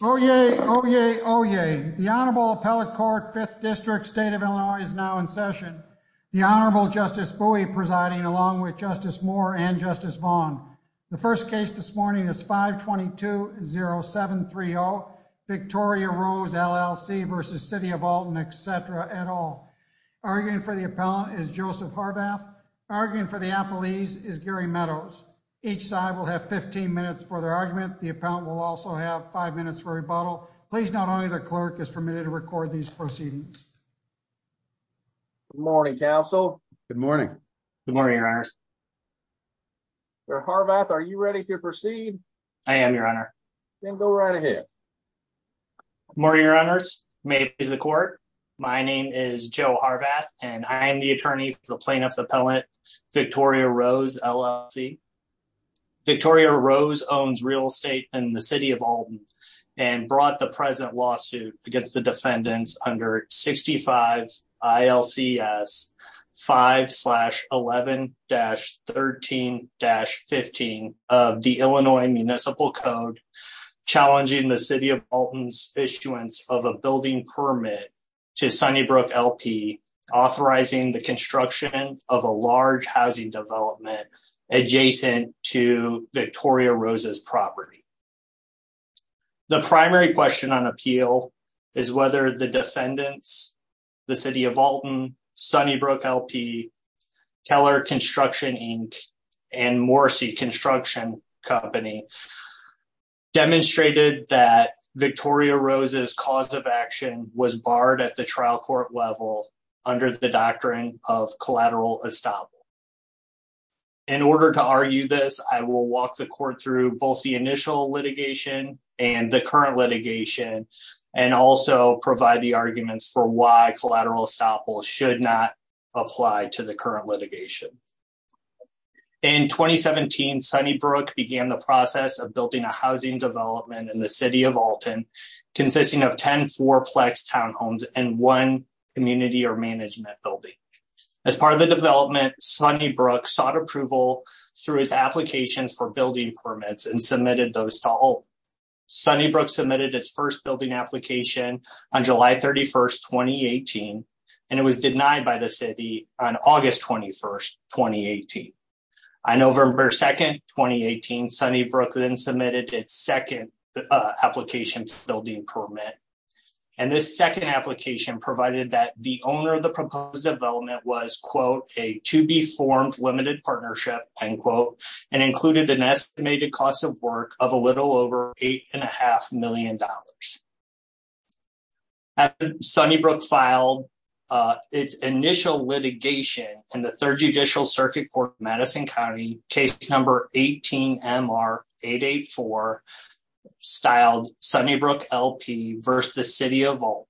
Oyez, oyez, oyez. The Honorable Appellate Court, 5th District, State of Illinois, is now in session. The Honorable Justice Bowie presiding, along with Justice Moore and Justice Vaughn. The first case this morning is 522-0730, Victoria Rose, LLC v. City of Alton, etc., et al. Arguing for the appellant is Joseph Harbath. Arguing for the appellees is Gary Meadows. Each side will have 15 minutes for their argument. The appellant will also have five minutes for rebuttal. Please note only the clerk is permitted to record these proceedings. Good morning, counsel. Good morning. Good morning, your honors. Sir Harbath, are you ready to proceed? I am, your honor. Then go right ahead. Good morning, your honors. May it please the court. My name is Joe Harbath and I am the attorney for plaintiff appellant, Victoria Rose, LLC. Victoria Rose owns real estate in the City of Alton and brought the present lawsuit against the defendants under 65 ILCS 5-11-13-15 of the Illinois Municipal Code, challenging the City of Alton's issuance of a building permit to Sunnybrook LP, authorizing the construction of a large housing development adjacent to Victoria Rose's property. The primary question on appeal is whether the defendants, the City of Alton, Sunnybrook LP, Teller Construction, Inc., and Morrissey Construction Company demonstrated that of collateral estoppel. In order to argue this, I will walk the court through both the initial litigation and the current litigation and also provide the arguments for why collateral estoppel should not apply to the current litigation. In 2017, Sunnybrook began the process of building a housing development in the City of Alton consisting of 10 fourplex townhomes and one management building. As part of the development, Sunnybrook sought approval through its applications for building permits and submitted those to Alton. Sunnybrook submitted its first building application on July 31, 2018, and it was denied by the City on August 21, 2018. On November 2, 2018, Sunnybrook then submitted its second application building permit, and this second application provided that the owner of the proposed development was, quote, a to-be-formed limited partnership, end quote, and included an estimated cost of work of a little over $8.5 million. After Sunnybrook filed its initial litigation in the Third Judicial Circuit Court, Madison County, case number 18-MR-884 styled Sunnybrook LP versus the City of Alton,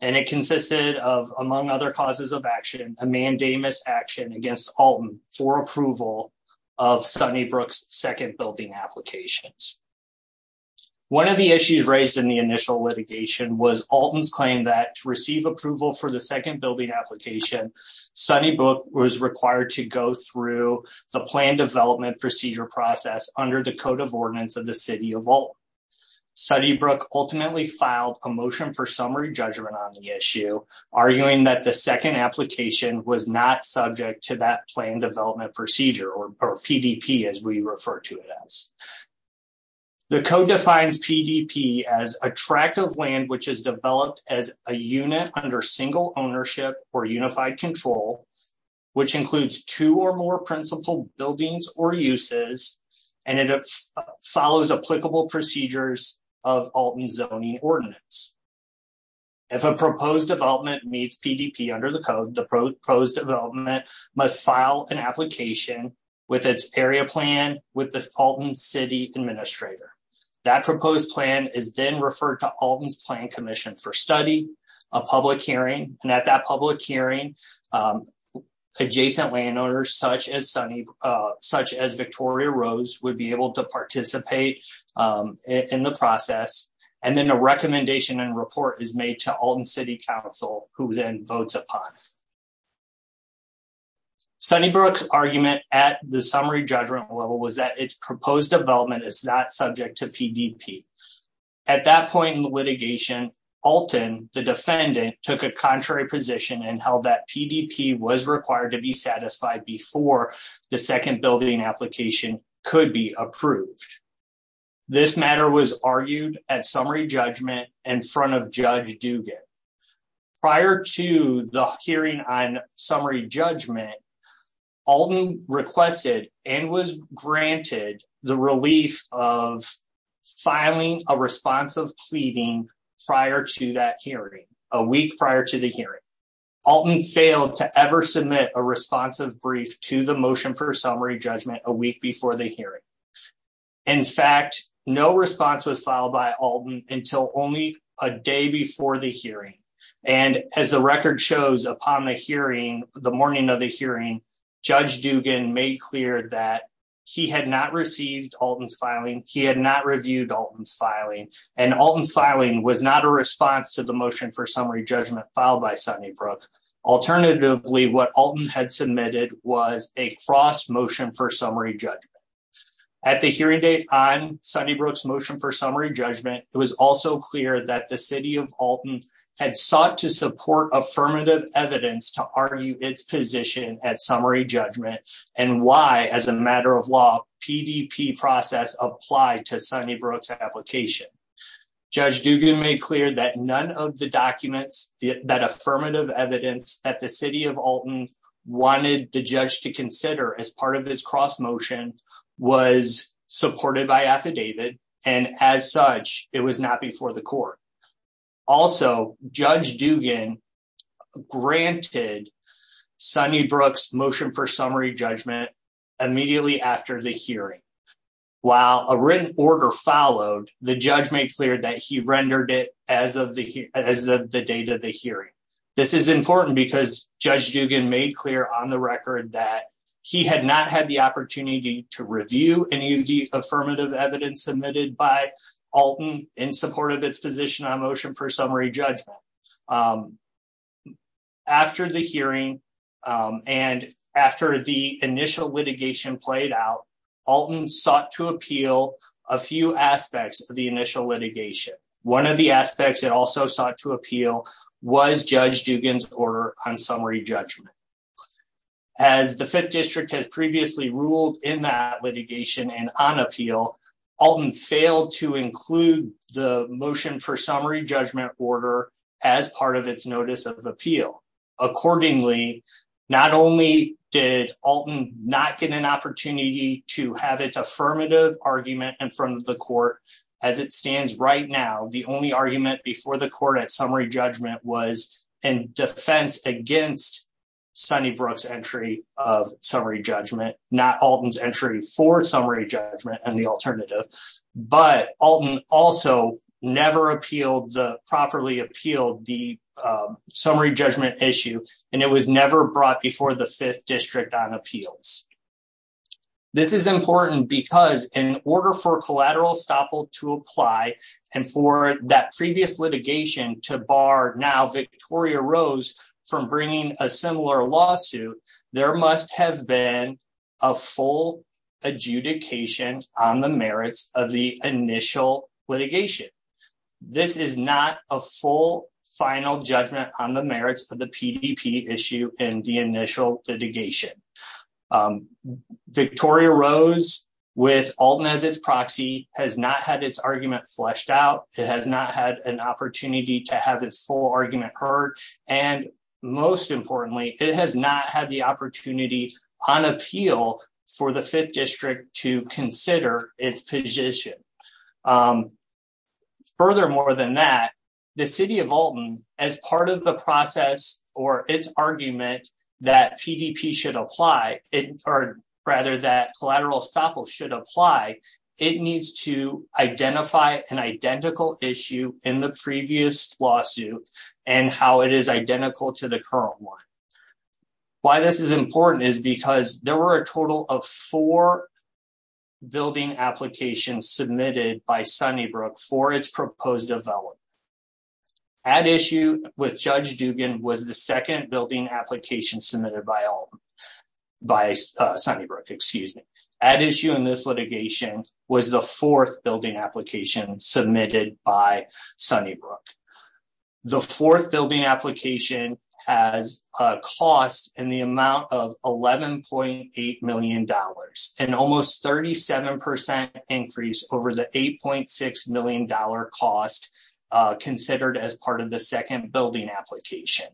and it consisted of, among other causes of action, a mandamus action against Alton for approval of Sunnybrook's second building applications. One of the issues raised in the initial litigation was Alton's claim that to receive was required to go through the plan development procedure process under the Code of Ordinance of the City of Alton. Sunnybrook ultimately filed a motion for summary judgment on the issue, arguing that the second application was not subject to that plan development procedure, or PDP as we refer to it as. The Code defines PDP as a tract of land which is developed as a unit under single ownership or unified control, which includes two or more principal buildings or uses, and it follows applicable procedures of Alton's zoning ordinance. If a proposed development meets PDP under the Code, the proposed development must file an application with its area plan with the Alton City Administrator. That proposed plan is then a public hearing, and at that public hearing, adjacent landowners such as Victoria Rose would be able to participate in the process, and then a recommendation and report is made to Alton City Council, who then votes upon it. Sunnybrook's argument at the summary judgment level was that its proposed development is not subject to PDP. At that point in the litigation, Alton, the defendant, took a contrary position and held that PDP was required to be satisfied before the second building application could be approved. This matter was argued at summary judgment in front of Judge Dugan. Prior to the hearing on summary judgment, Alton requested and was granted the relief of filing a response of pleading prior to that hearing, a week prior to the hearing. Alton failed to ever submit a responsive brief to the motion for summary judgment a week before the hearing. In fact, no response was filed by Alton until only a day before the hearing, and as the record shows, upon the hearing, the morning of the hearing, Judge Dugan made clear that he had not received Alton's filing, he had not reviewed Alton's filing, and Alton's filing was not a response to the motion for summary judgment filed by Sunnybrook. Alternatively, what Alton had submitted was a cross motion for summary judgment. At the hearing date on Sunnybrook's motion for summary judgment, it was also clear that the City of Alton had sought to as a matter of law, PDP process applied to Sunnybrook's application. Judge Dugan made clear that none of the documents, that affirmative evidence that the City of Alton wanted the judge to consider as part of its cross motion was supported by affidavit, and as such, it was not before the court. Also, Judge Dugan granted Sunnybrook's motion for summary judgment immediately after the hearing. While a written order followed, the judge made clear that he rendered it as of the date of the hearing. This is important because Judge Dugan made clear on the record that he had not had the opportunity to review any of the affirmative evidence submitted by Alton in support of its position on motion for summary judgment. After the hearing, and after the initial litigation played out, Alton sought to appeal a few aspects of the initial litigation. One of the aspects it also sought to appeal was Judge Dugan's order on summary judgment. As the Fifth District has previously ruled in that litigation and on appeal, Alton failed to include the motion for summary judgment order as part of its notice of appeal. Accordingly, not only did Alton not get an opportunity to have its affirmative argument in front of the court as it stands right now, the only argument before the court at summary judgment was defense against Sunnybrook's entry of summary judgment, not Alton's entry for summary judgment and the alternative. But Alton also never properly appealed the summary judgment issue, and it was never brought before the Fifth District on appeals. This is important because in order for bringing a similar lawsuit, there must have been a full adjudication on the merits of the initial litigation. This is not a full final judgment on the merits of the PDP issue and the initial litigation. Victoria Rose, with Alton as its proxy, has not had its argument fleshed out. It has not had an opportunity to have its full argument heard, and most importantly, it has not had the opportunity on appeal for the Fifth District to consider its position. Further more than that, the City of Alton, as part of the process or its argument that PDP should apply, or rather that in the previous lawsuit and how it is identical to the current one. Why this is important is because there were a total of four building applications submitted by Sunnybrook for its proposed development. At issue with Judge Duggan was the second building application submitted by Sunnybrook. At issue in this litigation was the fourth building application submitted by Sunnybrook. The fourth building application has a cost in the amount of $11.8 million, an almost 37% increase over the $8.6 million cost considered as part of the second building application.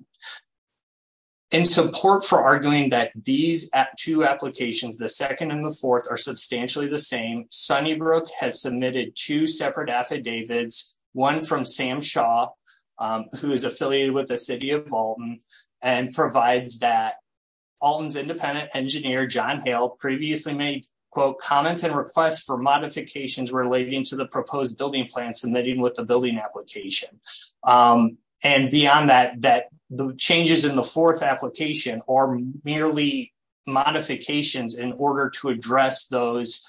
In support for arguing that these two applications, the second and the fourth, are substantially the same, Sunnybrook has submitted two separate affidavits, one from Sam Shaw, who is affiliated with the City of Alton, and provides that Alton's independent engineer, John Hale, previously made, quote, comments and requests for modifications relating to the proposed building plan submitting with the building application. And beyond that, the changes in the fourth application are merely modifications in order to address those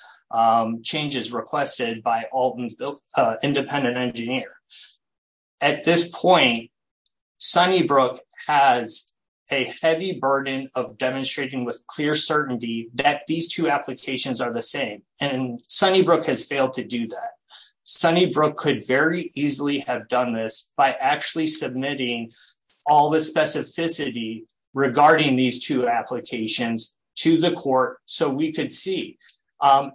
changes requested by Alton's independent engineer. At this point, Sunnybrook has a heavy burden of demonstrating with clear certainty that these two applications are the same, and Sunnybrook has failed to do that. Sunnybrook could very easily have done this by actually all the specificity regarding these two applications to the court so we could see.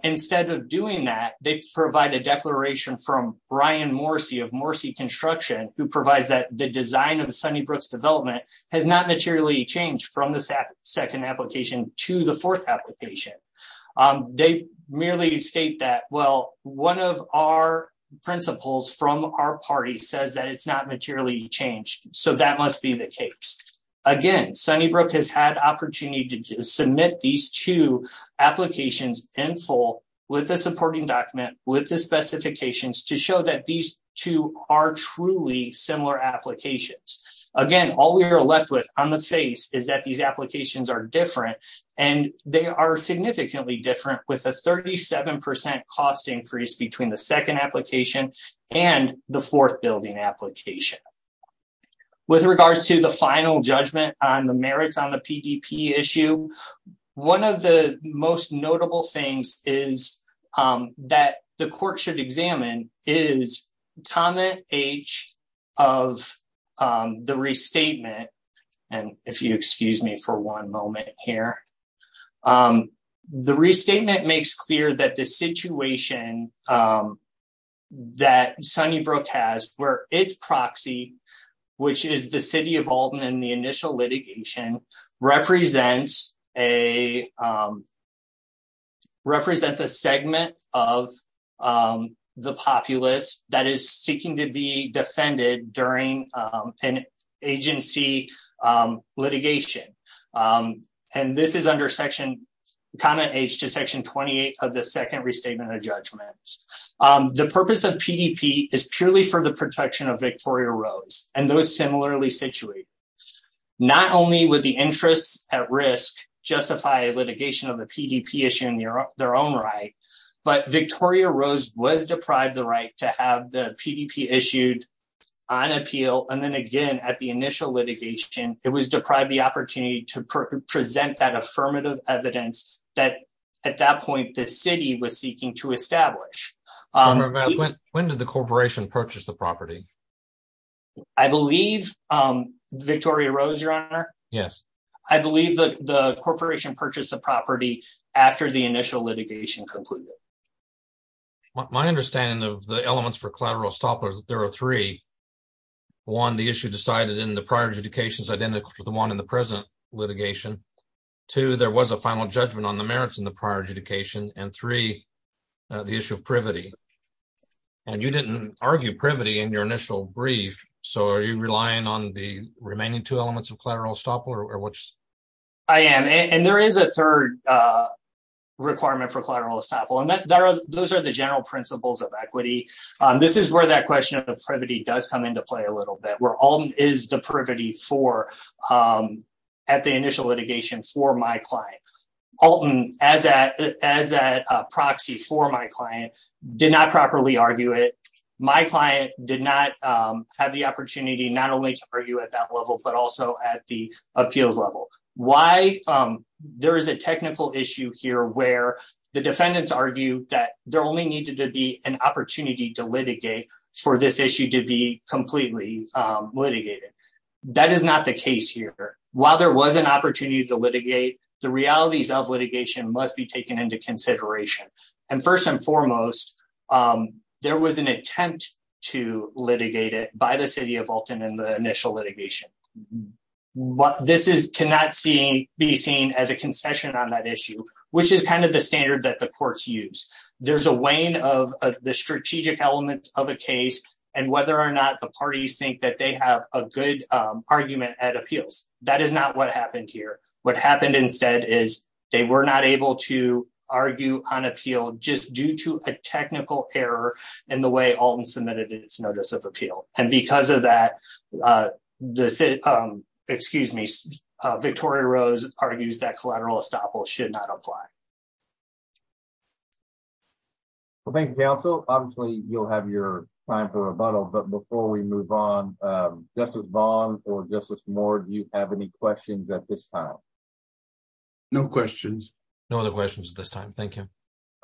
Instead of doing that, they provide a declaration from Brian Morsey of Morsey Construction, who provides that the design of Sunnybrook's development has not materially changed from the second application to the fourth application. They merely state that, well, one of our principles from our party says that it's not materially changed, so that must be the case. Again, Sunnybrook has had opportunity to submit these two applications in full with the supporting document, with the specifications, to show that these two are truly similar applications. Again, all we are left with on the face is that these applications are different, and they are significantly different, with a 37% cost increase between the second application and the fourth building application. With regards to the final judgment on the merits on the PDP issue, one of the most notable things is that the court should examine is comment H of the restatement, and if you excuse me for one moment here, the restatement makes clear that the situation that Sunnybrook has, where its proxy, which is the City of Alton in the initial litigation, represents a segment of the populace that is seeking to be defended during an agency litigation, and this is under comment H to section 28 of the second restatement of judgment. The purpose of PDP is purely for the protection of Victoria Rose, and those similarly situated. Not only would the interests at risk justify litigation of the PDP issue in their own right, but Victoria Rose was deprived the right to have the PDP issued on appeal, and then again, at the initial litigation, it was deprived the opportunity to present that affirmative evidence that at that point the city was seeking to establish. When did the corporation purchase the property? I believe Victoria Rose, your honor. Yes. I believe that the corporation purchased the property after the initial litigation concluded. My understanding of the elements for collateral estoppel is that there are three. One, the issue decided in the prior adjudications identical to the one in the present litigation. Two, there was a final judgment on the merits in the prior adjudication, and three, the issue of privity, and you didn't argue privity in your initial brief, so are you relying on the remaining two elements of collateral estoppel? I am, and there is a third requirement for collateral estoppel, and those are the general principles of equity. This is where that question of the privity does come into play a little bit, where Alton is the privity at the initial litigation for my client. Alton, as that proxy for my client, did not properly argue it. My client did not have the opportunity not only to argue at that level, but also at the appeals level. There is a technical issue here where the defendants argued that there only needed to be an opportunity to litigate for this issue to be completely litigated. That is not the case here. While there was an opportunity to litigate, the realities of litigation must be taken into consideration, and first and foremost, there was an attempt to litigate it by the City of Alton in the initial litigation. This cannot be seen as a concession on that issue, which is kind of the standard that the courts use. There is a weighing of the strategic elements of a case and whether or not the parties think that they have a good argument at appeals. That is not what happened here. What happened instead is they were not able to argue on appeal just due to a technical error in the way Alton submitted its notice of appeal. Because of that, Victoria Rose argues that collateral estoppel should not apply. Thank you, counsel. Obviously, you will have your time for rebuttal, but before we move on, Justice Vaughn or Justice Moore, do you have any questions at this time? No questions. No other questions at this time. Thank you.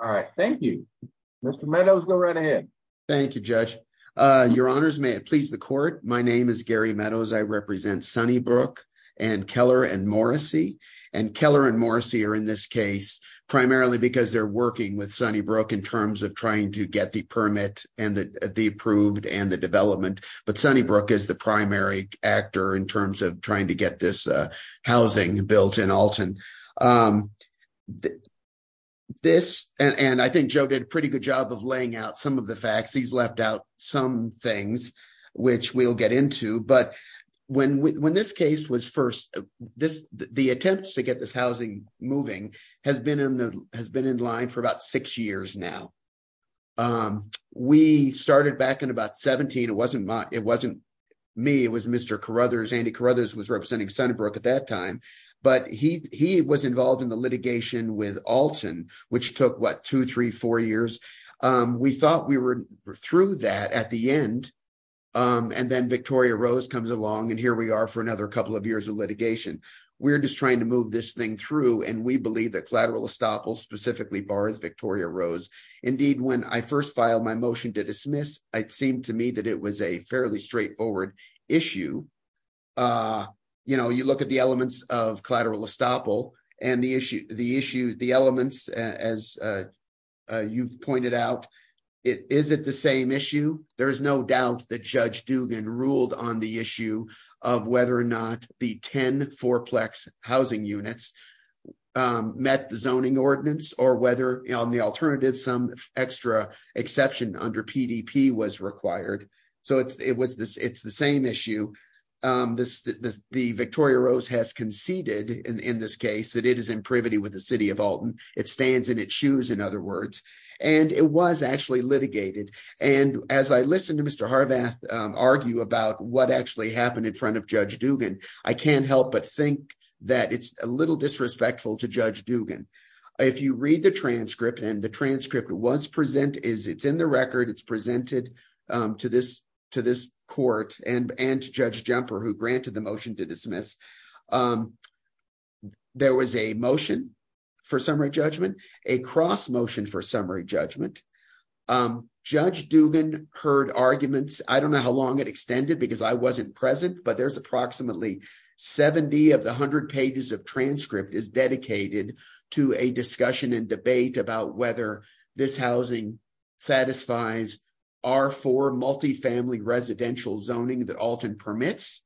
All right. Thank you. Mr. Meadows, go right ahead. Thank you, Judge. Your honors, may it please the court. My name is Gary Meadows. I represent Sunnybrook and Keller and Morrissey, and Keller and Morrissey are in this case primarily because they're working with Sunnybrook in terms of trying to get the permit and the approved and the development, but Sunnybrook is the primary actor in terms of trying to get this housing built in Alton. I think Joe did a pretty good job of laying out some of the facts. He's left out some things, which we'll get into, but when this case was first, the attempt to get this housing moving has been in line for about six years now. We started back in about 17. It wasn't me. It was Mr. Carruthers. Andy Carruthers was representing Sunnybrook at that time, but he was involved in the litigation with Alton, which took, what, two, three, four years. We thought we were through that at the end, and then Victoria Rose comes along, and here we are for another couple of years of litigation. We're just trying to move this thing through, and we believe that collateral estoppel specifically bars Victoria Rose. Indeed, when I first filed my motion to dismiss, it seemed to me that it was a fairly straightforward issue. You look at the elements of collateral estoppel, and the elements, as you've pointed out, is it the same issue? There's no doubt that Judge Dugan ruled on the issue of whether or not the 10 fourplex housing units met the zoning ordinance or whether, on the alternative, some extra exception under PDP was required. It's the same issue. The Victoria Rose has conceded in this case that it is in privity with the City of Alton. It stands in its shoes, in other words, and it was actually litigated. As I listened to Mr. Harvath argue about what actually happened in front of Judge Dugan, I can't help but think that it's a little disrespectful to Judge Dugan. If you read the transcript, and the transcript is in the record. It's presented to this court and to Judge Jumper, who granted the motion to dismiss. There was a motion for summary judgment, a cross motion for summary judgment. Judge Dugan heard arguments. I don't know how long it extended because I wasn't present, but there's approximately 70 of the 100 pages of transcript is dedicated to a discussion and debate about whether this housing satisfies our four multifamily residential zoning that Alton permits,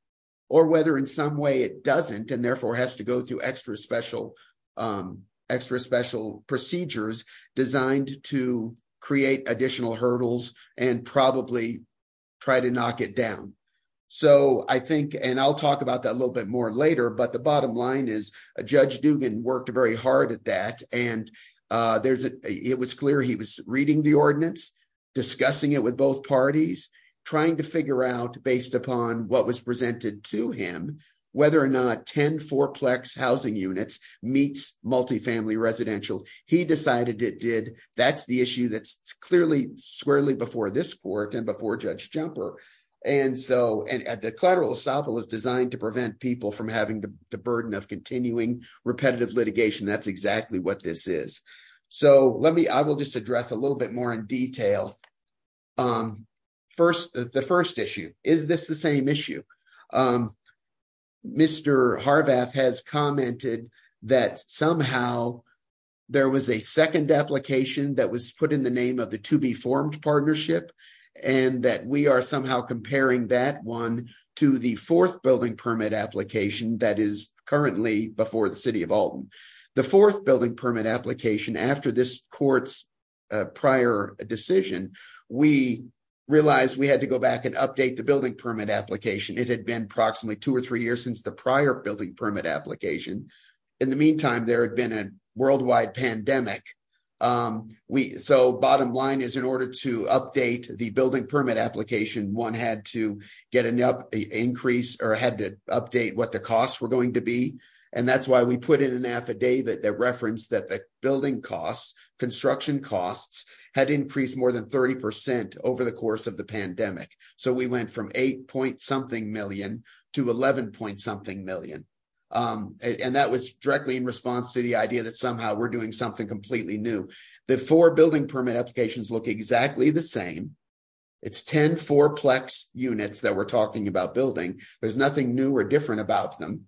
or whether in some way it doesn't and therefore has to go through extra special procedures designed to create additional hurdles and probably try to knock it down. I'll talk about that a little bit more later, but the bottom line is Judge Dugan worked very hard at that. It was clear he was reading the ordinance, discussing it with both parties, trying to figure out, based upon what was presented to him, whether or not 10 fourplex housing units meets multifamily residential. He decided it did. That's the issue that's clearly squarely before this court and before Judge Jumper. The collateral estoppel is designed to prevent people from having the burden of continuing repetitive litigation. That's exactly what this is. I will just the first issue. Is this the same issue? Mr. Harvath has commented that somehow there was a second application that was put in the name of the to be formed partnership, and that we are somehow comparing that one to the fourth building permit application that is currently before the city of Alton. The fourth building permit application after this court's decision, we realized we had to go back and update the building permit application. It had been approximately two or three years since the prior building permit application. In the meantime, there had been a worldwide pandemic. Bottom line is, in order to update the building permit application, one had to get an increase or had to update what the costs were going to be. That's had increased more than 30% over the course of the pandemic. We went from 8 point something million to 11 point something million. That was directly in response to the idea that somehow we're doing something completely new. The four building permit applications look exactly the same. It's 10 fourplex units that we're talking about building. There's nothing new or different about them.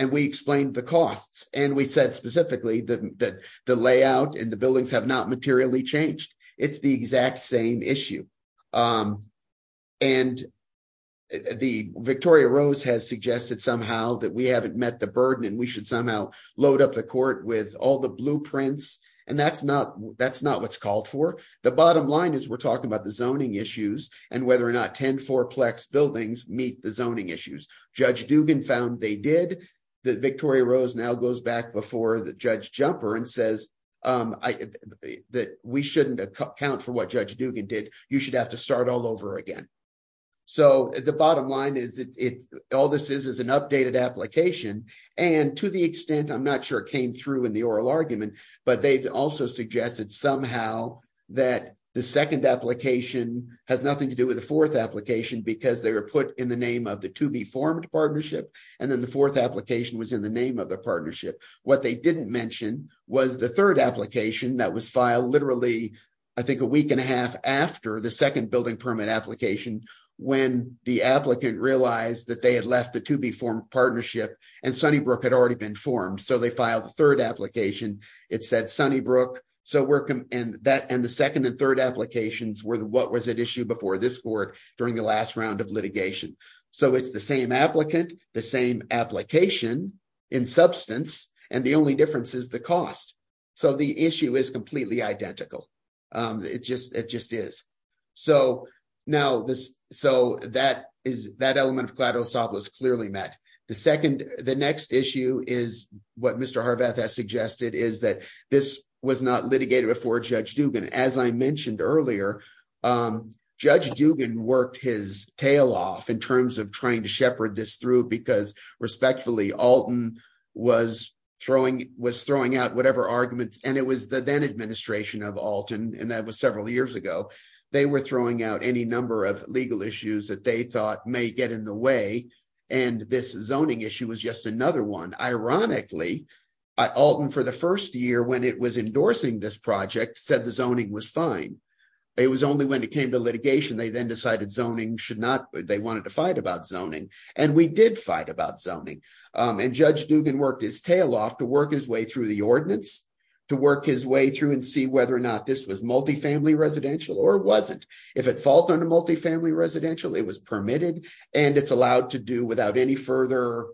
We explained the costs. We said specifically that the layout and the buildings have not materially changed. It's the exact same issue. Victoria Rose has suggested somehow that we haven't met the burden and we should somehow load up the court with all the blueprints. That's not what's called for. The bottom line is we're talking about the zoning issues and whether or not 10 fourplex buildings meet the zoning issues. Judge Dugan found they did. Victoria Rose now goes back before Judge Jumper and says we shouldn't account for what Judge Dugan did. You should have to start all over again. The bottom line is all this is is an updated application. To the extent, I'm not sure it came through in the oral argument, but they've also suggested somehow that the second application has nothing to do with the fourth application because they were put in the name of the to be formed partnership. Then the fourth application was in the name of the partnership. What they didn't mention was the third application that was filed literally, I think, a week and a half after the second building permit application when the applicant realized that they had left the to be formed partnership and Sunnybrook had already been formed. They filed the third application. It said Sunnybrook and the second and third applications were what was at issue before this court during the last round of in substance. The only difference is the cost. The issue is completely identical. It just is. That element of clearly met. The next issue is what Mr. Harbeth has suggested is that this was not litigated before Judge Dugan. As I mentioned earlier, Judge Dugan worked his tail off in terms of trying to shepherd this through because respectfully Alton was throwing out whatever arguments and it was the then administration of Alton and that was several years ago. They were throwing out any number of legal issues that they thought may get in the way and this zoning issue was just another one. Ironically, Alton for the first year when it was endorsing this project said the zoning was fine. It was only when it came to litigation they then decided zoning should not. They wanted to fight about zoning and we did fight about zoning and Judge Dugan worked his tail off to work his way through the ordinance to work his way through and see whether or not this was multi-family residential or it wasn't. If at fault on a multi-family residential, it was permitted and it's allowed to do without any further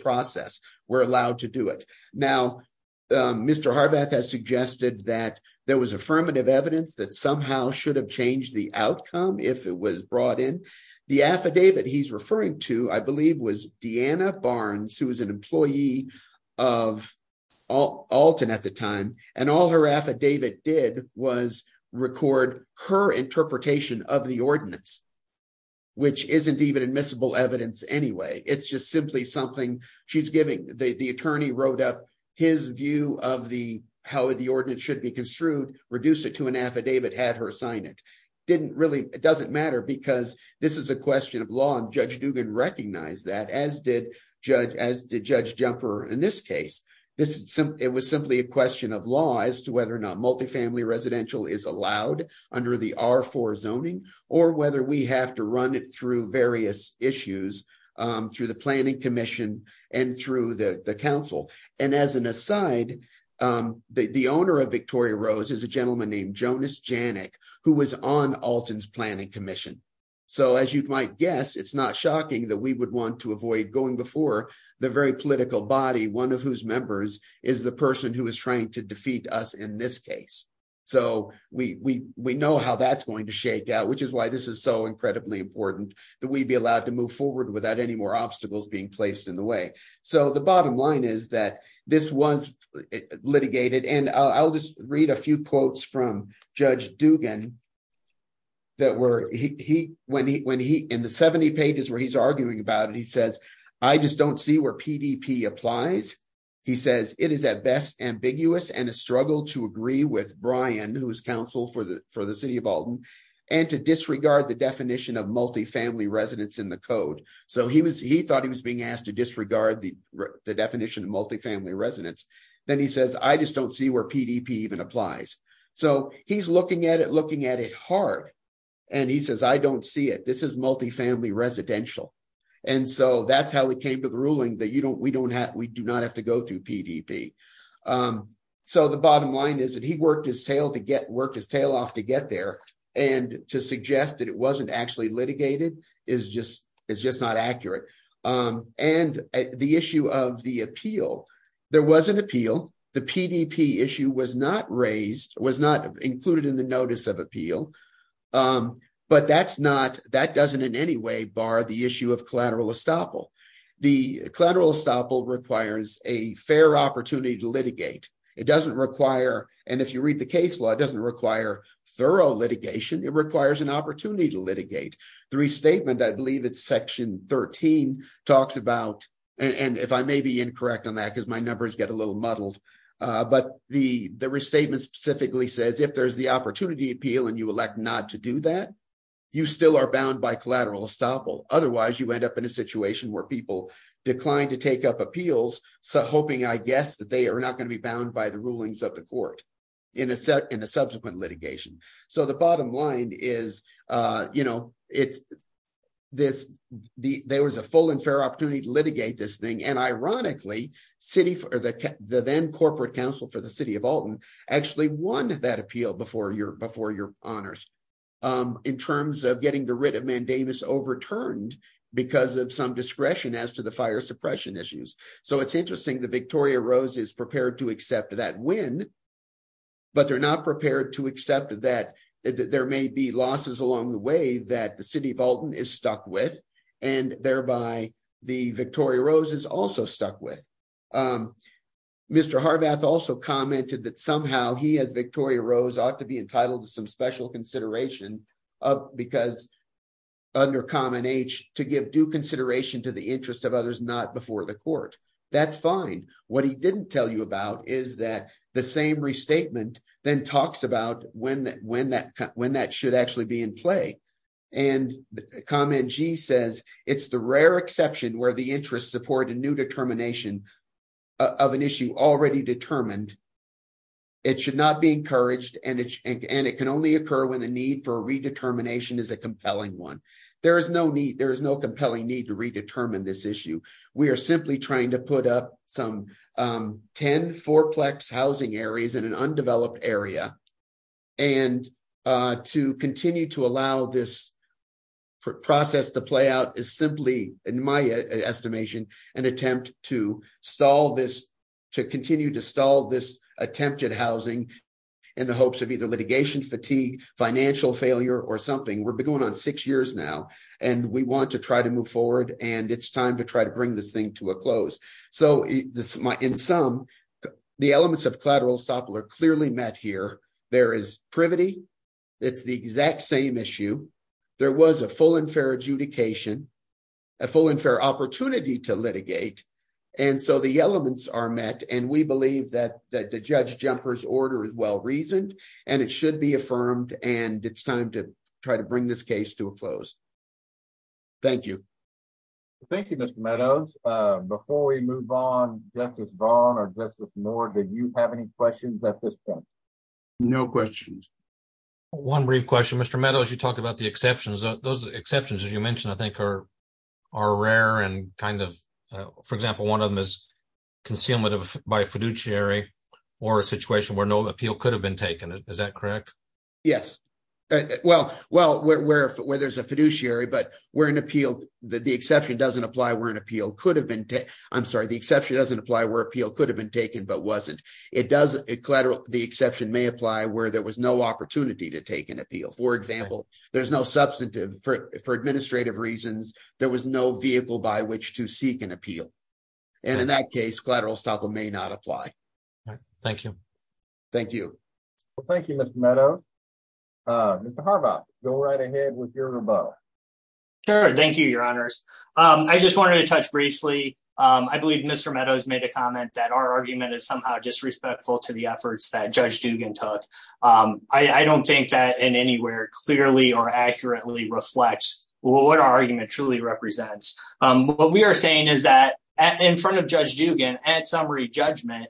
process. We're allowed to do it. Now Mr. Harbeth has suggested that there was affirmative evidence that somehow should have changed the outcome if it was brought in. The affidavit he's referring to I believe was Deanna Barnes who was an employee of Alton at the time and all her affidavit did was record her interpretation of the ordinance which isn't even admissible evidence anyway. It's just simply something she's giving. The attorney wrote up his view of how the ordinance should be had her sign it. It doesn't matter because this is a question of law and Judge Dugan recognized that as did Judge Jumper in this case. It was simply a question of law as to whether or not multi-family residential is allowed under the R4 zoning or whether we have to run it through various issues through the planning commission and through the council. As an aside, the owner of Victoria Rose is a gentleman named Jonas Janik who was on Alton's planning commission. So as you might guess, it's not shocking that we would want to avoid going before the very political body, one of whose members is the person who is trying to defeat us in this case. So we know how that's going to shake out which is why this is so incredibly important that we'd be allowed to move forward without any more obstacles being placed in the way. So the bottom line is that this was litigated and I'll just read a few quotes from Judge Dugan. In the 70 pages where he's arguing about it, he says, I just don't see where PDP applies. He says, it is at best ambiguous and a struggle to agree with Brian who is counsel for the city of Alton and to disregard the definition of multi-family residence in the code. So he thought he was being asked to disregard the definition of multi-family residence. Then he says, I just don't see where PDP even applies. So he's looking at it hard and he says, I don't see it. This is multi-family residential. And so that's how we came to the ruling that we do not have to go through PDP. So the bottom line is that he worked his tail off to get there and to suggest that it wasn't actually litigated is just not accurate. And the issue of the appeal, there was an appeal. The PDP issue was not raised, was not included in the notice of appeal, but that doesn't in any way bar the issue of collateral estoppel. The collateral estoppel requires a fair opportunity to litigate. It doesn't require, and if you read the case law, it doesn't require thorough litigation. It requires an opportunity to litigate. The restatement, I believe it's section 13 talks about, and if I may be incorrect on that, because my numbers get a little muddled, but the restatement specifically says if there's the opportunity appeal and you elect not to do that, you still are bound by collateral estoppel. Otherwise you end up in a situation where people decline to take up appeals. So hoping, I guess, they are not going to be bound by the rulings of the court in a subsequent litigation. So the bottom line is there was a full and fair opportunity to litigate this thing. And ironically, the then corporate counsel for the city of Alton actually won that appeal before your honors in terms of getting the writ of mandamus overturned because of some discretion as to fire suppression issues. So it's interesting that Victoria Rose is prepared to accept that win, but they're not prepared to accept that there may be losses along the way that the city of Alton is stuck with and thereby the Victoria Rose is also stuck with. Mr. Harbath also commented that somehow he as Victoria Rose ought to be entitled to some special consideration because under common to give due consideration to the interest of others not before the court. That's fine. What he didn't tell you about is that the same restatement then talks about when that should actually be in play. And comment G says it's the rare exception where the interest support a new determination of an issue already determined. It should not be encouraged and it can only occur when the need for a redetermination is a compelling one. There is no compelling need to redetermine this issue. We are simply trying to put up some 10 fourplex housing areas in an undeveloped area and to continue to allow this process to play out is simply in my estimation an attempt to continue to stall this attempt at housing in the hopes of either litigation fatigue, financial failure or something. We've been going on six years now and we want to try to move forward and it's time to try to bring this thing to a close. So in sum the elements of collateral stop were clearly met here. There is privity. It's the exact same issue. There was a full and fair adjudication, a full and fair opportunity to litigate and so the elements are met and we and it's time to try to bring this case to a close. Thank you. Thank you Mr. Meadows. Before we move on Justice Braun or Justice Moore did you have any questions at this point? No questions. One brief question Mr. Meadows you talked about the exceptions. Those exceptions as you mentioned I think are are rare and kind of for example one of them is concealment of by fiduciary or a situation where no appeal could have been taken. Is that correct? Yes well well where there's a fiduciary but where an appeal the exception doesn't apply where an appeal could have been I'm sorry the exception doesn't apply where appeal could have been taken but wasn't. It doesn't collateral the exception may apply where there was no opportunity to take an appeal. For example there's no substantive for administrative reasons there was no vehicle by which to seek an appeal and in that case collateral estoppel may not apply. All right thank you. Thank you. Well thank you Mr. Meadows. Mr. Harbaugh go right ahead with your rebuttal. Sure thank you your honors. I just wanted to touch briefly I believe Mr. Meadows made a comment that our argument is somehow disrespectful to the efforts that Judge Dugan took. I don't think that in anywhere clearly or accurately reflects what our argument truly represents. What we are saying is that in front of Judge Dugan at summary judgment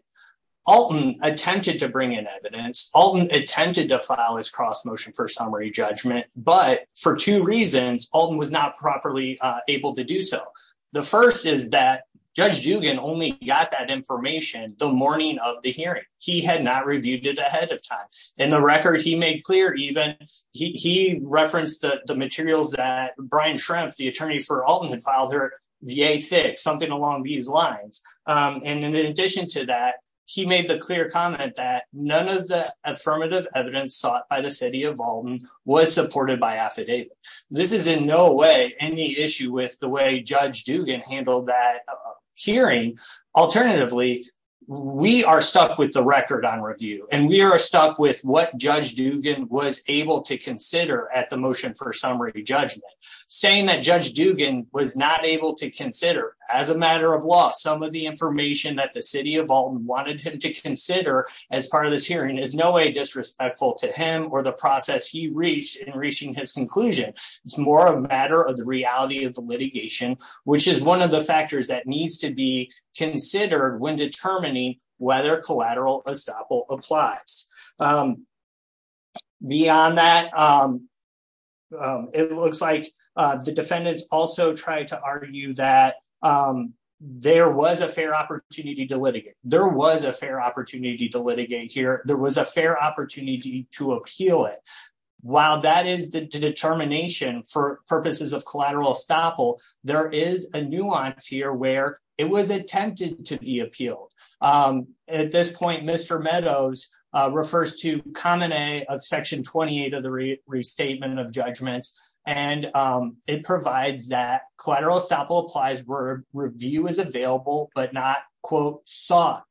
Alton attempted to bring in evidence. Alton attempted to file his cross motion for summary judgment but for two reasons Alton was not properly able to do so. The first is that Judge Dugan only got that information the morning of the he referenced the materials that Brian Schrempf the attorney for Alton had filed her VA fix something along these lines. And in addition to that he made the clear comment that none of the affirmative evidence sought by the city of Alton was supported by affidavit. This is in no way any issue with the way Judge Dugan handled that hearing. Alternatively we are stuck with the record on review and we are stuck with what Judge Dugan was able to consider at the motion for summary judgment. Saying that Judge Dugan was not able to consider as a matter of law some of the information that the city of Alton wanted him to consider as part of this hearing is no way disrespectful to him or the process he reached in reaching his conclusion. It's more a matter of the reality of the litigation which is one of the factors that needs to be considered when determining whether collateral estoppel applies. Beyond that it looks like the defendants also tried to argue that there was a fair opportunity to litigate. There was a fair opportunity to litigate here. There was a fair opportunity to appeal it. While that is the determination for purposes of collateral estoppel there is a nuance here where it was attempted to appeal. At this point Mr. Meadows refers to section 28 of the restatement of judgments and it provides that collateral estoppel applies where review is available but not quote sought.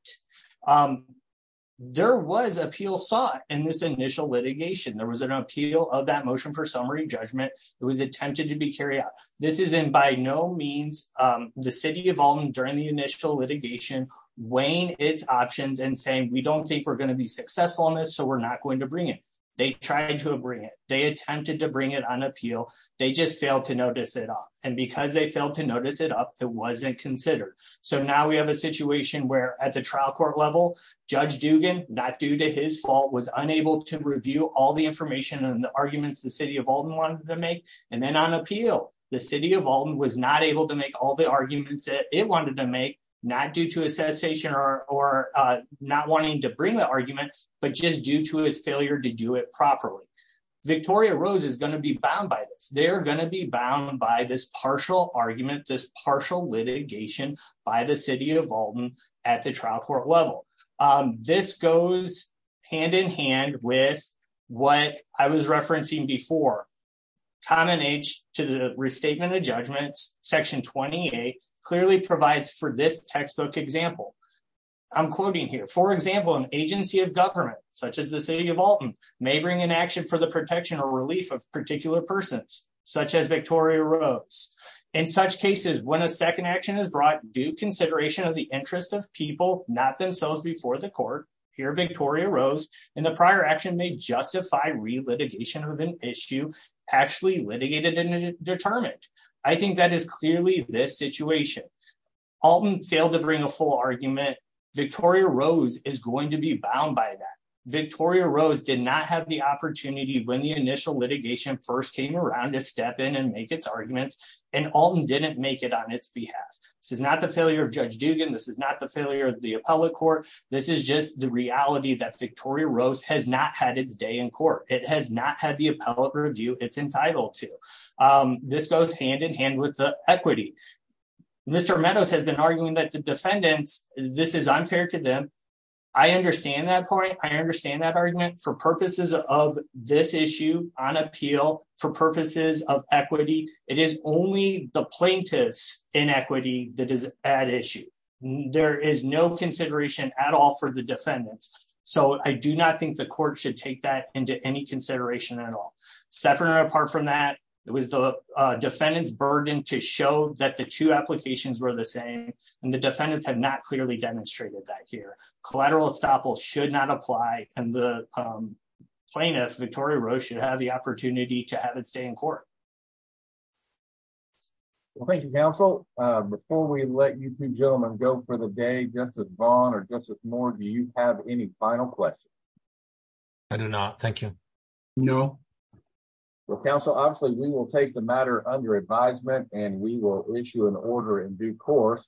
There was appeal sought in this initial litigation. There was an appeal of that motion for summary judgment. It was attempted to be carried out. This is in by no means the city during the initial litigation weighing its options and saying we don't think we're going to be successful on this so we're not going to bring it. They tried to bring it. They attempted to bring it on appeal. They just failed to notice it up and because they failed to notice it up it wasn't considered. So now we have a situation where at the trial court level Judge Dugan not due to his fault was unable to review all the information and the arguments the city of Alton wanted to make and then on appeal the city of Alton was not able to make all the arguments that it wanted to make not due to a cessation or not wanting to bring the argument but just due to his failure to do it properly. Victoria Rose is going to be bound by this. They're going to be bound by this partial argument, this partial litigation by the city of Alton at the trial court level. This goes hand in hand with what I was referencing before. Common age to the restatement of judgments section 28 clearly provides for this textbook example. I'm quoting here for example an agency of government such as the city of Alton may bring an action for the protection or relief of particular persons such as Victoria Rose. In such cases when a second action is brought due consideration of interest of people not themselves before the court here Victoria Rose and the prior action may justify re-litigation of an issue actually litigated and determined. I think that is clearly this situation. Alton failed to bring a full argument. Victoria Rose is going to be bound by that. Victoria Rose did not have the opportunity when the initial litigation first came around to step in and make its arguments and Alton didn't make it on its behalf. This is not the failure Judge Dugan. This is not the failure of the appellate court. This is just the reality that Victoria Rose has not had its day in court. It has not had the appellate review it's entitled to. This goes hand in hand with the equity. Mr. Meadows has been arguing that the defendants this is unfair to them. I understand that point. I understand that argument for purposes of this issue. There is no consideration at all for the defendants. I do not think the court should take that into any consideration at all. Separate or apart from that it was the defendant's burden to show that the two applications were the same and the defendants have not clearly demonstrated that here. Collateral estoppel should not apply and the plaintiff Victoria Rose should have the for the day. Justice Vaughn or Justice Moore do you have any final questions? I do not. Thank you. No. Well counsel obviously we will take the matter under advisement and we will issue an order in due course.